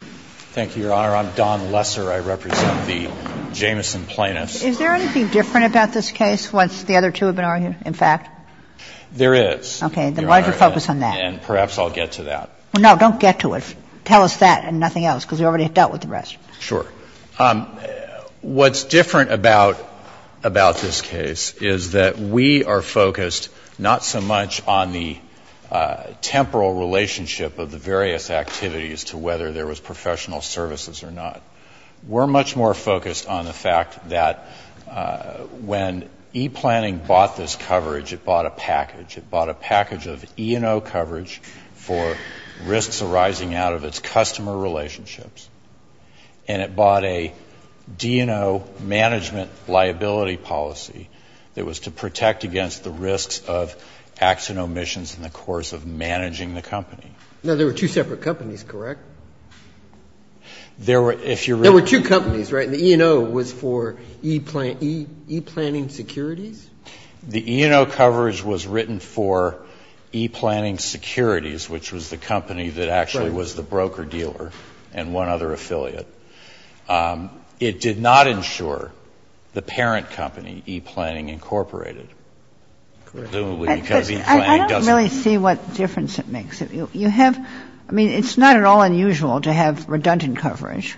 Thank you, Your Honor. I'm Don Lesser. I represent the Jamison plaintiffs. Is there anything different about this case once the other two have been argued, in fact? There is. Okay. Then why don't you focus on that? And perhaps I'll get to that. No, don't get to it. Tell us that and nothing else, because we already dealt with the rest. Sure. What's different about this case is that we are focused not so much on the temporal relationship of the various activities to whether there was professional services or not. We're much more focused on the fact that when ePlanning bought this coverage, it bought a package. It bought a package of E&O coverage for risks arising out of its customer relationships. And it bought a D&O management liability policy that was to protect against the risks of acts and omissions in the course of managing the company. Now, there were two separate companies, correct? There were, if you're reading There were two companies, right? And the E&O was for ePlanning Securities? The E&O coverage was written for ePlanning Securities, which was the company that actually was the broker-dealer and one other affiliate. It did not insure the parent company, ePlanning, Incorporated, presumably because ePlanning doesn't I don't really see what difference it makes. You have, I mean, it's not at all unusual to have redundant coverage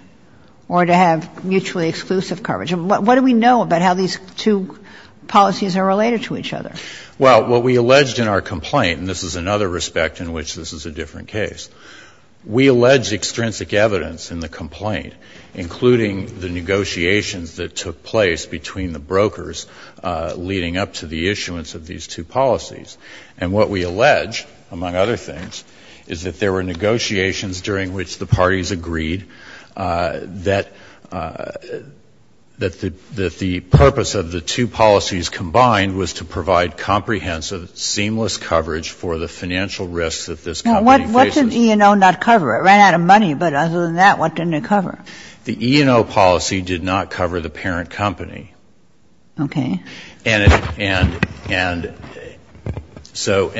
or to have mutually exclusive coverage. What do we know about how these two policies are related to each other? Well, what we alleged in our complaint, and this is another respect in which this is a different case, we allege extrinsic evidence in the complaint, including the negotiations that took place between the brokers leading up to the issuance of these two policies. And what we allege, among other things, is that there were negotiations during which the parties agreed that the purpose of the two policies combined was to provide comprehensive, seamless coverage for the financial risks that this company faces. Now, what did E&O not cover? It ran out of money, but other than that, what didn't it cover? The E&O policy did not cover the parent company. Okay. And so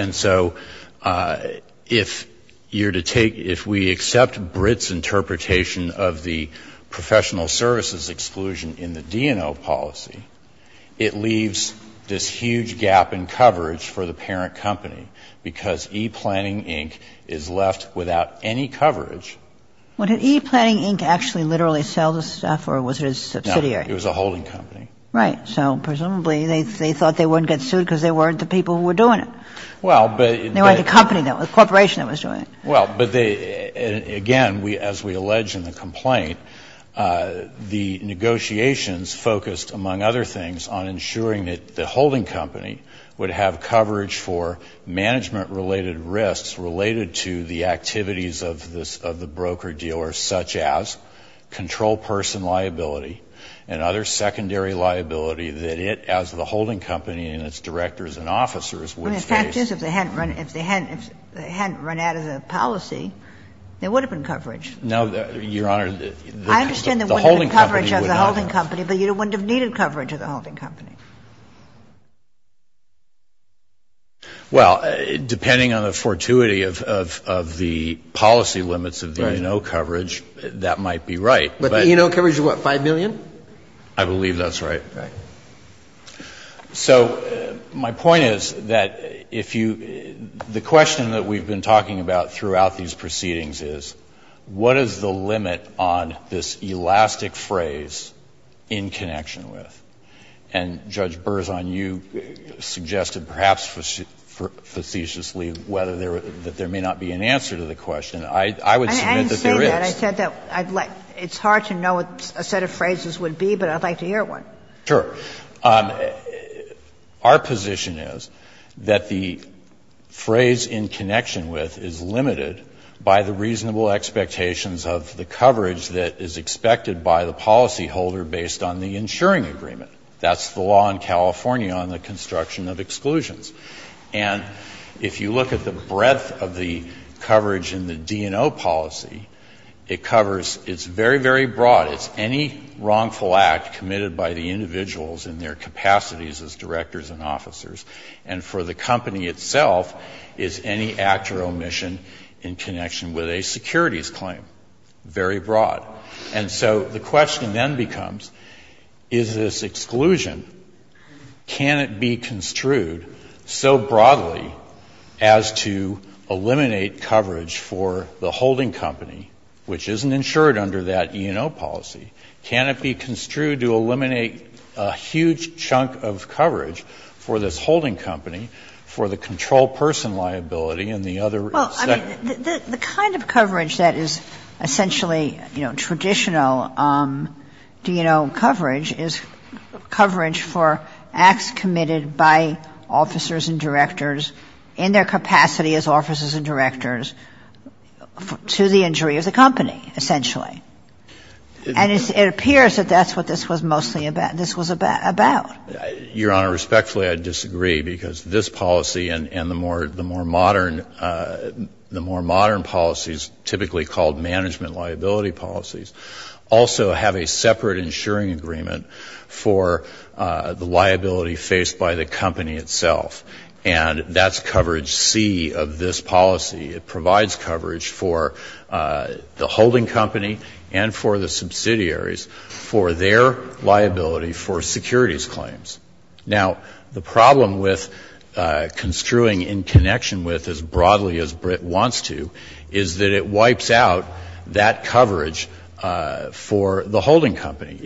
if you're to take, if we accept BRIT's interpretation of the professional services exclusion in the D&O policy, it leaves this huge gap in coverage for the parent company because ePlanning, Inc. is left without any coverage. Well, did ePlanning, Inc. actually literally sell this stuff, or was it a subsidiary? No, it was a holding company. Right. So presumably they thought they wouldn't get sued because they weren't the people who were doing it. Well, but they were the company that was, the corporation that was doing it. Well, but they, again, as we allege in the complaint, the negotiations focused, among other things, on ensuring that the holding company would have coverage for management-related risks related to the activities of the broker-dealer, such as control person liability and other secondary liability that it, as the holding company and its directors and officers, would face. I mean, the fact is, if they hadn't run out of the policy, there would have been No, Your Honor, the holding company would not have. I understand there wouldn't have been coverage of the holding company, but you wouldn't have needed coverage of the holding company. Well, depending on the fortuity of the policy limits of the E&O coverage, that might be right, but But the E&O coverage is what, 5 million? I believe that's right. Right. So my point is that if you, the question that we've been talking about throughout these proceedings is, what is the limit on this elastic phrase, in connection with? And Judge Berzon, you suggested, perhaps facetiously, that there may not be an answer to the question. I would submit that there is. I didn't say that. I said that it's hard to know what a set of phrases would be, but I'd like to hear one. Sure. Our position is that the phrase, in connection with, is limited by the reasonable expectations of the coverage that is expected by the policyholder based on the insuring agreement. That's the law in California on the construction of exclusions. And if you look at the breadth of the coverage in the D&O policy, it covers, it's very, very broad. It's any wrongful act committed by the individuals in their capacities as directors and officers. And for the company itself, it's any act or omission in connection with a securities claim. Very broad. And so the question then becomes, is this exclusion, can it be construed so broadly as to eliminate coverage for the holding company, which isn't insured under that E&O policy? Can it be construed to eliminate a huge chunk of coverage for this holding company for the control person liability and the other? Well, I mean, the kind of coverage that is essentially, you know, traditional D&O coverage is coverage for acts committed by officers and directors in their capacity as officers and directors to the injury of the company, essentially. And it appears that that's what this was mostly about, this was about. Your Honor, respectfully, I disagree, because this policy and the more modern policies, typically called management liability policies, also have a separate insuring agreement for the liability faced by the company itself. And that's coverage C of this policy. It provides coverage for the holding company and for the subsidiaries for their liability for securities claims. Now, the problem with construing in connection with as broadly as Britt wants to is that it wipes out that coverage for the holding company.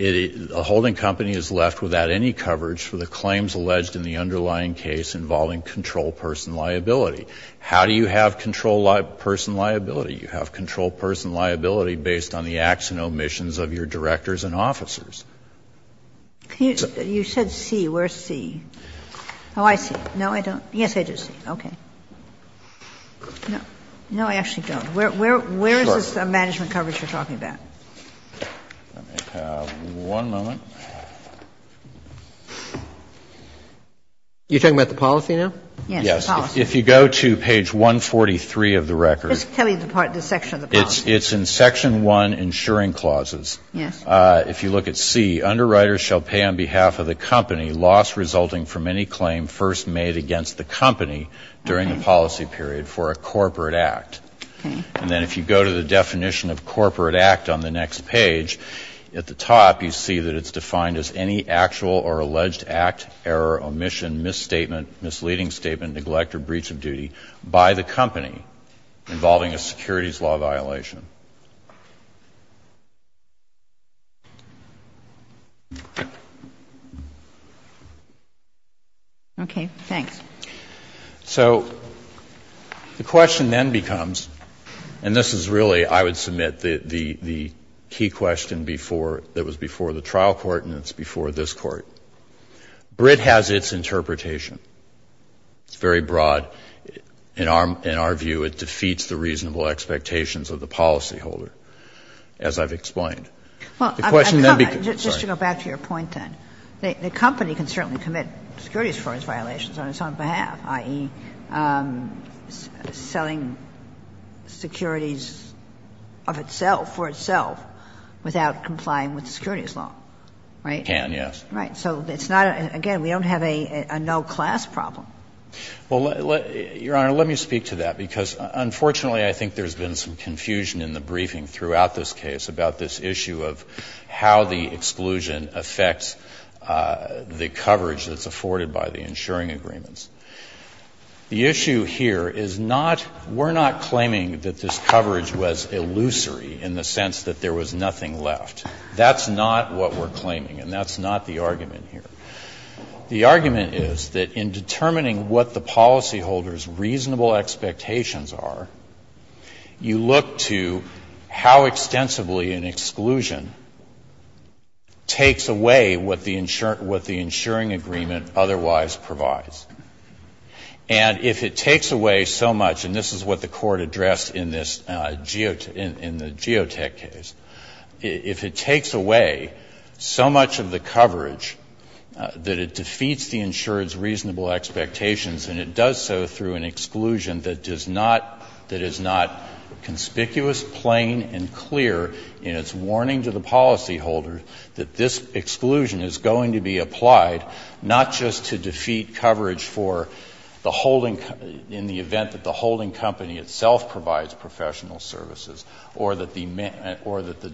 A holding company is left without any coverage for the claims alleged in the underlying case involving control person liability. How do you have control person liability? You have control person liability based on the acts and omissions of your directors and officers. You said C. Where's C? Oh, I see. No, I don't. Yes, I do see. Okay. No, I actually don't. Sure. Where is this management coverage you're talking about? Let me have one moment. You're talking about the policy now? Yes, the policy. Yes. If you go to page 143 of the record. Just tell me the part, the section of the policy. It's in section 1, insuring clauses. Yes. If you look at C, underwriters shall pay on behalf of the company loss resulting from any claim first made against the company during the policy period for a corporate act. Okay. And then if you go to the definition of corporate act on the next page, at the top you see that it's defined as any actual or alleged act, error, omission, misstatement, misleading statement, neglect, or breach of duty by the company involving a securities law violation. Okay. Thanks. So the question then becomes, and this is really, I would submit, the key question that was before the trial court and it's before this court. BRIT has its interpretation. It's very broad. In our view, it defeats the reasonable expectations of the policyholder, as I've explained. The question then becomes. Just to go back to your point then. The company can certainly commit securities fraud violations on its own behalf, i.e., selling securities of itself, for itself, without complying with the securities law, right? It can, yes. Right. So it's not, again, we don't have a no-class problem. Well, Your Honor, let me speak to that, because unfortunately I think there's been some confusion in the briefing throughout this case about this issue of how the exclusion affects the coverage that's afforded by the insuring agreements. The issue here is not, we're not claiming that this coverage was illusory in the sense that there was nothing left. That's not what we're claiming and that's not the argument here. The argument is that in determining what the policyholder's reasonable expectations are, you look to how extensively an exclusion takes away what the insuring agreement otherwise provides. And if it takes away so much, and this is what the Court addressed in this geotech case, if it takes away so much of the coverage that it defeats the insurer's reasonable expectations, and it does so through an exclusion that does not, that is not conspicuous, plain, and clear in its warning to the policyholder that this exclusion is going to be applied not just to defeat coverage for the holding, in the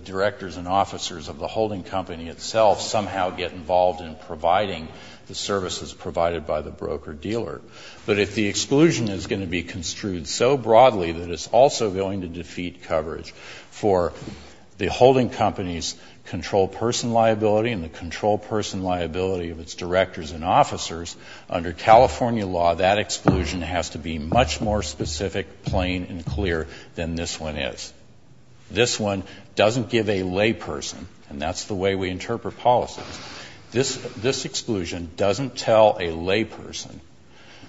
directors and officers of the holding company itself somehow get involved in providing the services provided by the broker-dealer, but if the exclusion is going to be construed so broadly that it's also going to defeat coverage for the holding company's control person liability and the control person liability of its directors and officers, under California law, that exclusion has to be much more specific, plain, and clear than this one is. This one doesn't give a layperson, and that's the way we interpret policies. This exclusion doesn't tell a layperson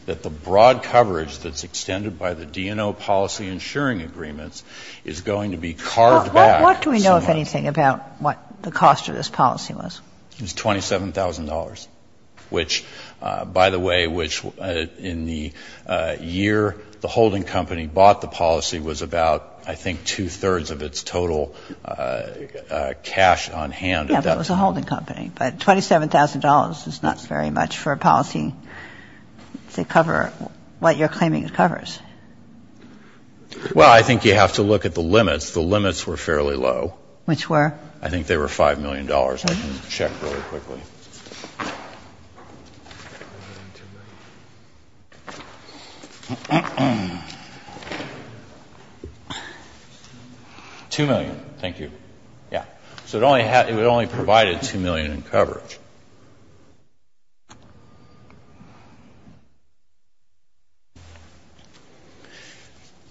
that the broad coverage that's extended by the DNO policy insuring agreements is going to be carved back. Kagan. What do we know, if anything, about what the cost of this policy was? It was $27,000, which, by the way, which in the year the holding company bought the policy was about, I think, two-thirds of its total cash on hand at that time. Yeah, but it was a holding company. But $27,000 is not very much for a policy to cover what you're claiming it covers. Well, I think you have to look at the limits. The limits were fairly low. Which were? I think they were $5 million. $5 million. I can check really quickly. $2 million. Thank you. Yeah. So it only provided $2 million in coverage.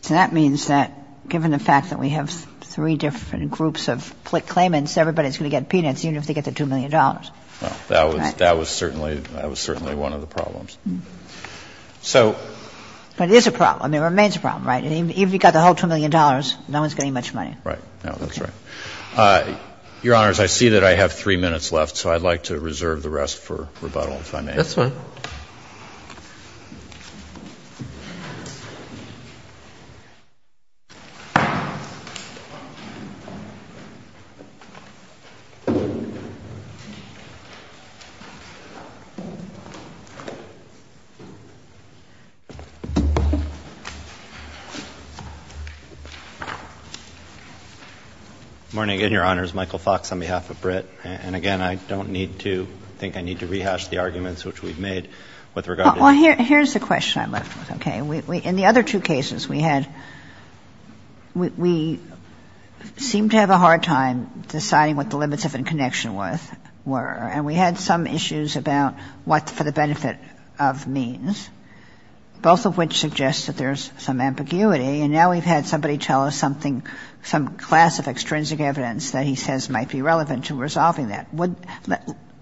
So that means that, given the fact that we have three different groups of claimants, everybody's going to get peanuts, even if they get the $2 million. Well, that was certainly one of the problems. But it is a problem. It remains a problem, right? Even if you got the whole $2 million, no one's getting much money. Right. No, that's right. Your Honors, I see that I have three minutes left, so I'd like to reserve the rest for rebuttal, if I may. That's fine. Thank you. Good morning, Your Honors. Michael Fox on behalf of BRIT. And, again, I don't think I need to rehash the arguments which we've made with regard to the case. Well, here's the question I'm left with. Okay? In the other two cases we had, we seemed to have a hard time deciding what the limits of inconnection were. And we had some issues about what for the benefit of means, both of which suggests that there's some ambiguity. And now we've had somebody tell us something, some class of extrinsic evidence that he says might be relevant to resolving that.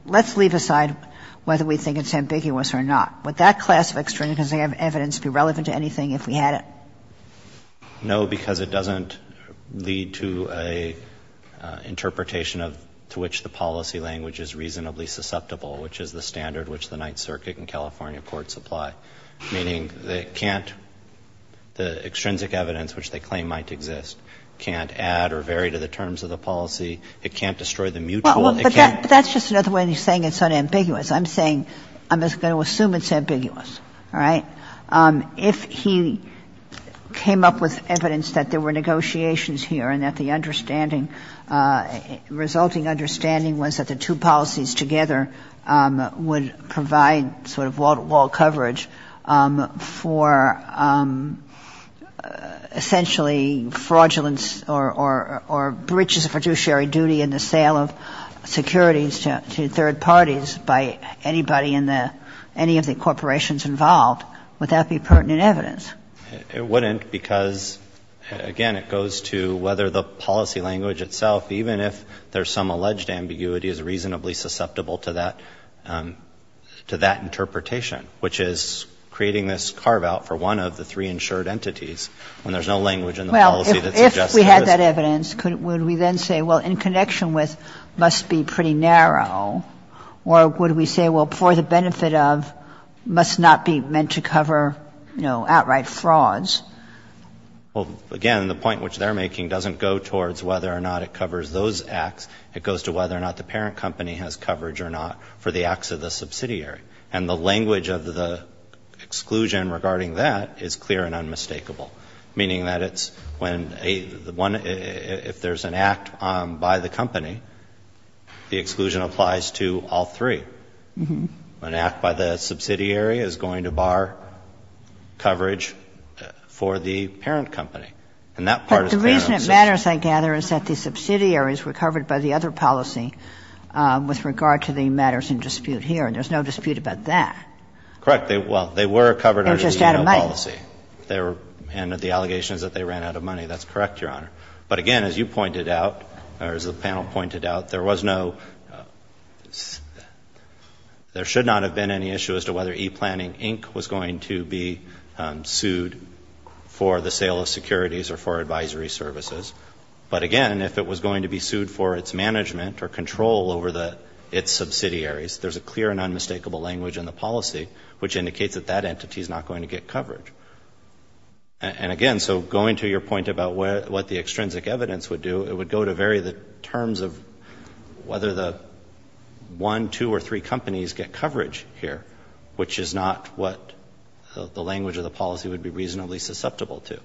Let's leave aside whether we think it's ambiguous or not. Would that class of extrinsic evidence be relevant to anything if we had it? No, because it doesn't lead to an interpretation to which the policy language is reasonably susceptible, which is the standard which the Ninth Circuit and California courts apply, meaning they can't, the extrinsic evidence which they claim might exist can't add or vary to the terms of the policy. It can't destroy the mutual. It can't do that. But that's just another way of saying it's unambiguous. I'm saying, I'm just going to assume it's ambiguous. All right? If he came up with evidence that there were negotiations here and that the understanding resulting understanding was that the two policies together would provide sort of wall coverage for essentially fraudulence or breaches of fiduciary duty in the sale of securities to third parties by anybody in the, any of the corporations involved, would that be pertinent evidence? It wouldn't because, again, it goes to whether the policy language itself, even if there's some alleged ambiguity, is reasonably susceptible to that, to that interpretation, which is creating this carve-out for one of the three insured entities when there's no language in the policy that suggests that it is. Well, if we had that evidence, would we then say, well, in connection with must be pretty narrow, or would we say, well, for the benefit of must not be meant to cover, you know, outright frauds? Well, again, the point which they're making doesn't go towards whether or not it covers those acts. It goes to whether or not the parent company has coverage or not for the acts of the subsidiary. And the language of the exclusion regarding that is clear and unmistakable, meaning that it's when a, the one, if there's an act by the company, the exclusion applies to all three. An act by the subsidiary is going to bar coverage for the parent company. And that part is clear and unmistakable. But the reason it matters, I gather, is that the subsidiaries were covered by the other policy with regard to the matters in dispute here. And there's no dispute about that. Correct. Well, they were covered under the EO policy. They were just out of money. And the allegations that they ran out of money, that's correct, Your Honor. But, again, as you pointed out, or as the panel pointed out, there was no, there should not have been any issue as to whether ePlanning Inc. was going to be sued for the sale of securities or for advisory services. But, again, if it was going to be sued for its management or control over its subsidiaries, there's a clear and unmistakable language in the policy which indicates that that entity is not going to get coverage. And, again, so going to your point about what the extrinsic evidence would do, it would go to vary the terms of whether the one, two, or three companies get coverage here, which is not what the language of the policy would be reasonably susceptible to.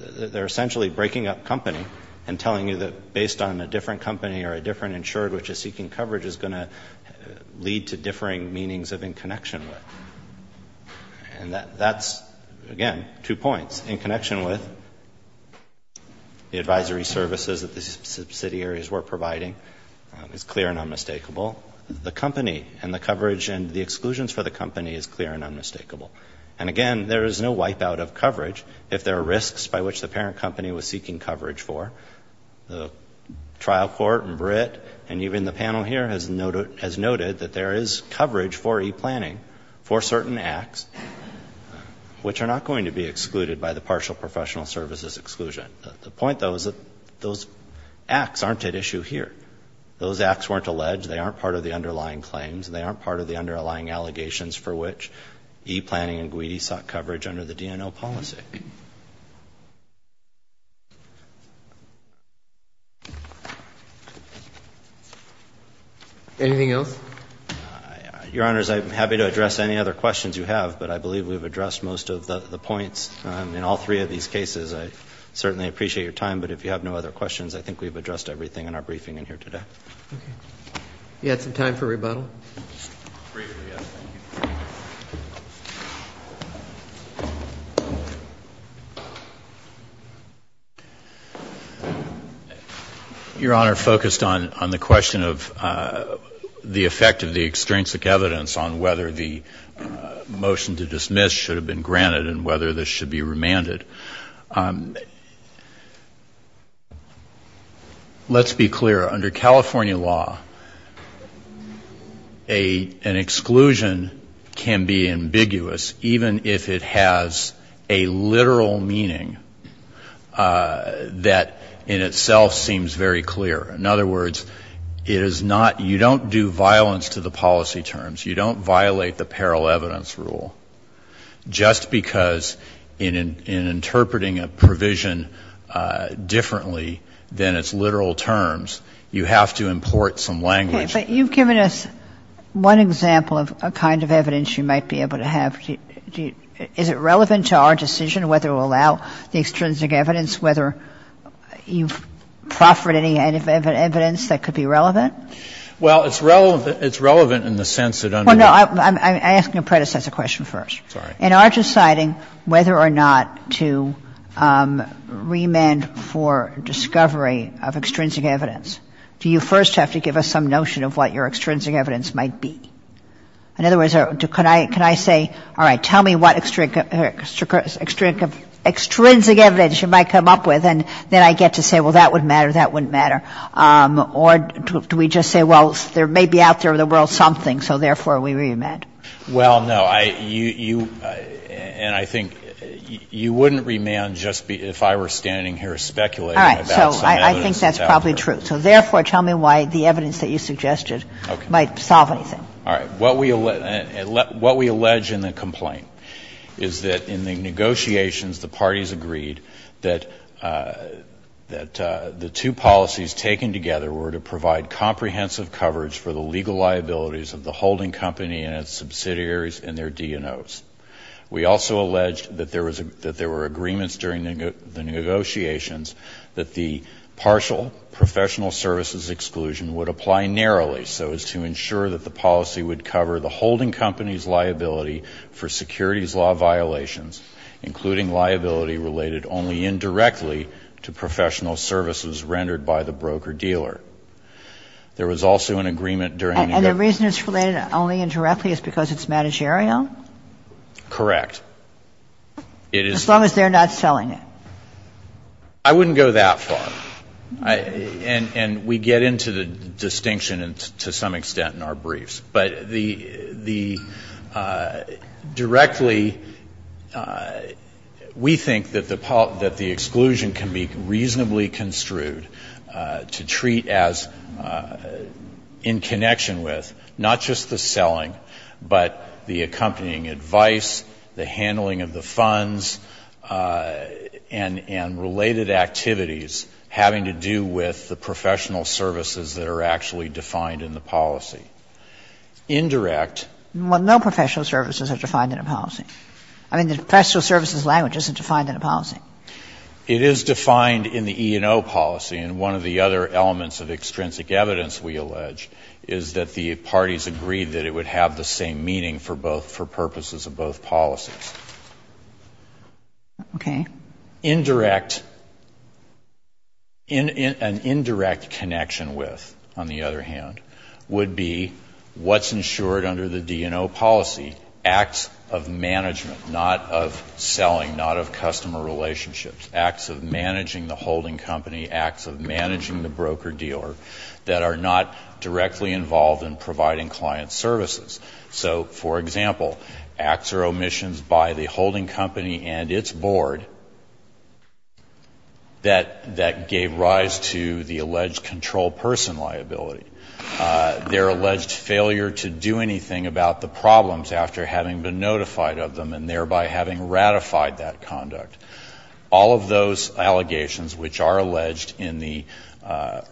They're essentially breaking up company and telling you that based on a different company or a different insured which is seeking coverage is going to lead to differing meanings of in connection with. And that's, again, two points. In connection with the advisory services that the subsidiaries were providing is clear and unmistakable. The company and the coverage and the exclusions for the company is clear and unmistakable. And, again, there is no wipeout of coverage if there are risks by which the parent company was seeking coverage for. The trial court in Britt and even the panel here has noted that there is coverage for e-planning for certain acts which are not going to be excluded by the partial professional services exclusion. The point, though, is that those acts aren't at issue here. Those acts weren't alleged. They aren't part of the underlying claims. They aren't part of the underlying allegations for which e-planning and GWITI sought coverage under the DNO policy. Anything else? Your Honors, I'm happy to address any other questions you have, but I believe we've addressed most of the points in all three of these cases. I certainly appreciate your time, but if you have no other questions, I think we've addressed everything in our briefing in here today. Okay. You had some time for rebuttal? Briefly, yes. Thank you. Your Honor, focused on the question of the effect of the extrinsic evidence on whether the motion to dismiss should have been granted and whether this should be remanded, let's be clear. Under California law, an exclusion can be ambiguous even if it has a literal meaning that in itself seems very clear. In other words, it is not you don't do violence to the policy terms. You don't violate the parallel evidence rule just because in interpreting a provision differently than its literal terms, you have to import some language. Okay. But you've given us one example of a kind of evidence you might be able to have. Is it relevant to our decision whether it will allow the extrinsic evidence, whether you've proffered any evidence that could be relevant? Well, it's relevant in the sense that under the law. Well, no. I'm asking a predecessor question first. Sorry. In our deciding whether or not to remand for discovery of extrinsic evidence, do you first have to give us some notion of what your extrinsic evidence might be? In other words, can I say, all right, tell me what extrinsic evidence you might come up with, and then I get to say, well, that wouldn't matter, that wouldn't matter, or do we just say, well, there may be out there in the world something, so therefore we remand? Well, no. You, and I think you wouldn't remand just if I were standing here speculating about some evidence that's out there. All right. So I think that's probably true. So therefore, tell me why the evidence that you suggested might solve anything. All right. What we allege in the complaint is that in the negotiations, the parties agreed that the two policies taken together were to provide comprehensive coverage for the legal liabilities of the holding company and its subsidiaries and their DNOs. We also alleged that there were agreements during the negotiations that the partial professional services exclusion would apply narrowly so as to ensure that the policy would cover the holding company's liability for securities law violations, including liability related only indirectly to professional services rendered by the broker-dealer. There was also an agreement during the negotiations. And the reason it's related only indirectly is because it's managerial? Correct. As long as they're not selling it. I wouldn't go that far. And we get into the distinction to some extent in our briefs. But the directly, we think that the exclusion can be reasonably construed to treat as in connection with not just the selling, but the accompanying advice, the handling of the funds, and related activities having to do with the professional services that are actually defined in the policy. Indirect. Well, no professional services are defined in a policy. I mean, the professional services language isn't defined in a policy. It is defined in the E&O policy. And one of the other elements of extrinsic evidence, we allege, is that the parties agreed that it would have the same meaning for purposes of both policies. Okay. Indirect, an indirect connection with, on the other hand, would be what's ensured under the D&O policy, acts of management, not of selling, not of customer relationships, acts of managing the holding company, acts of managing the broker-dealer, that are not directly involved in providing client services. So, for example, acts or omissions by the holding company and its board that gave rise to the alleged control person liability, their alleged failure to do anything about the problems after having been notified of them and thereby having ratified that conduct, all of those allegations which are alleged in the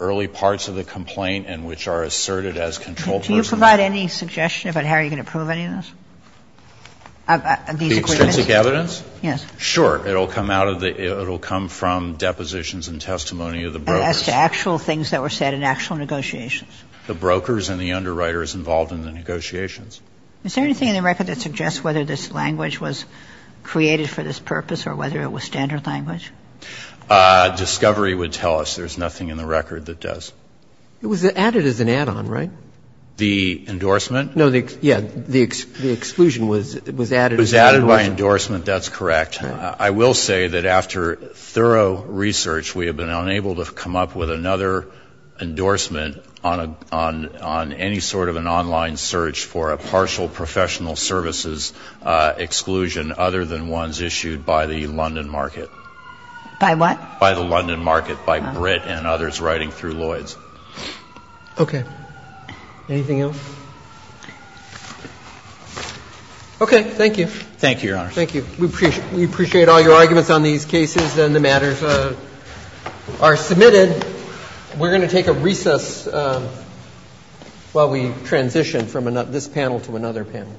early parts of the complaint and which are asserted as control persons. Do you provide any suggestion about how you're going to prove any of this? These agreements? The extrinsic evidence? Yes. Sure. It will come out of the – it will come from depositions and testimony of the brokers. As to actual things that were said in actual negotiations. The brokers and the underwriters involved in the negotiations. Is there anything in the record that suggests whether this language was created for this purpose or whether it was standard language? Discovery would tell us. There's nothing in the record that does. It was added as an add-on, right? The endorsement? No, the – yeah, the exclusion was added as an add-on. It was added by endorsement. That's correct. I will say that after thorough research, we have been unable to come up with another endorsement on any sort of an online search for a partial professional services exclusion other than ones issued by the London Market. By what? By the London Market, by Britt and others writing through Lloyds. Okay. Anything else? Okay. Thank you. Thank you, Your Honor. Thank you. We appreciate all your arguments on these cases, and the matters are submitted. We're going to take a recess while we transition from this panel to another panel.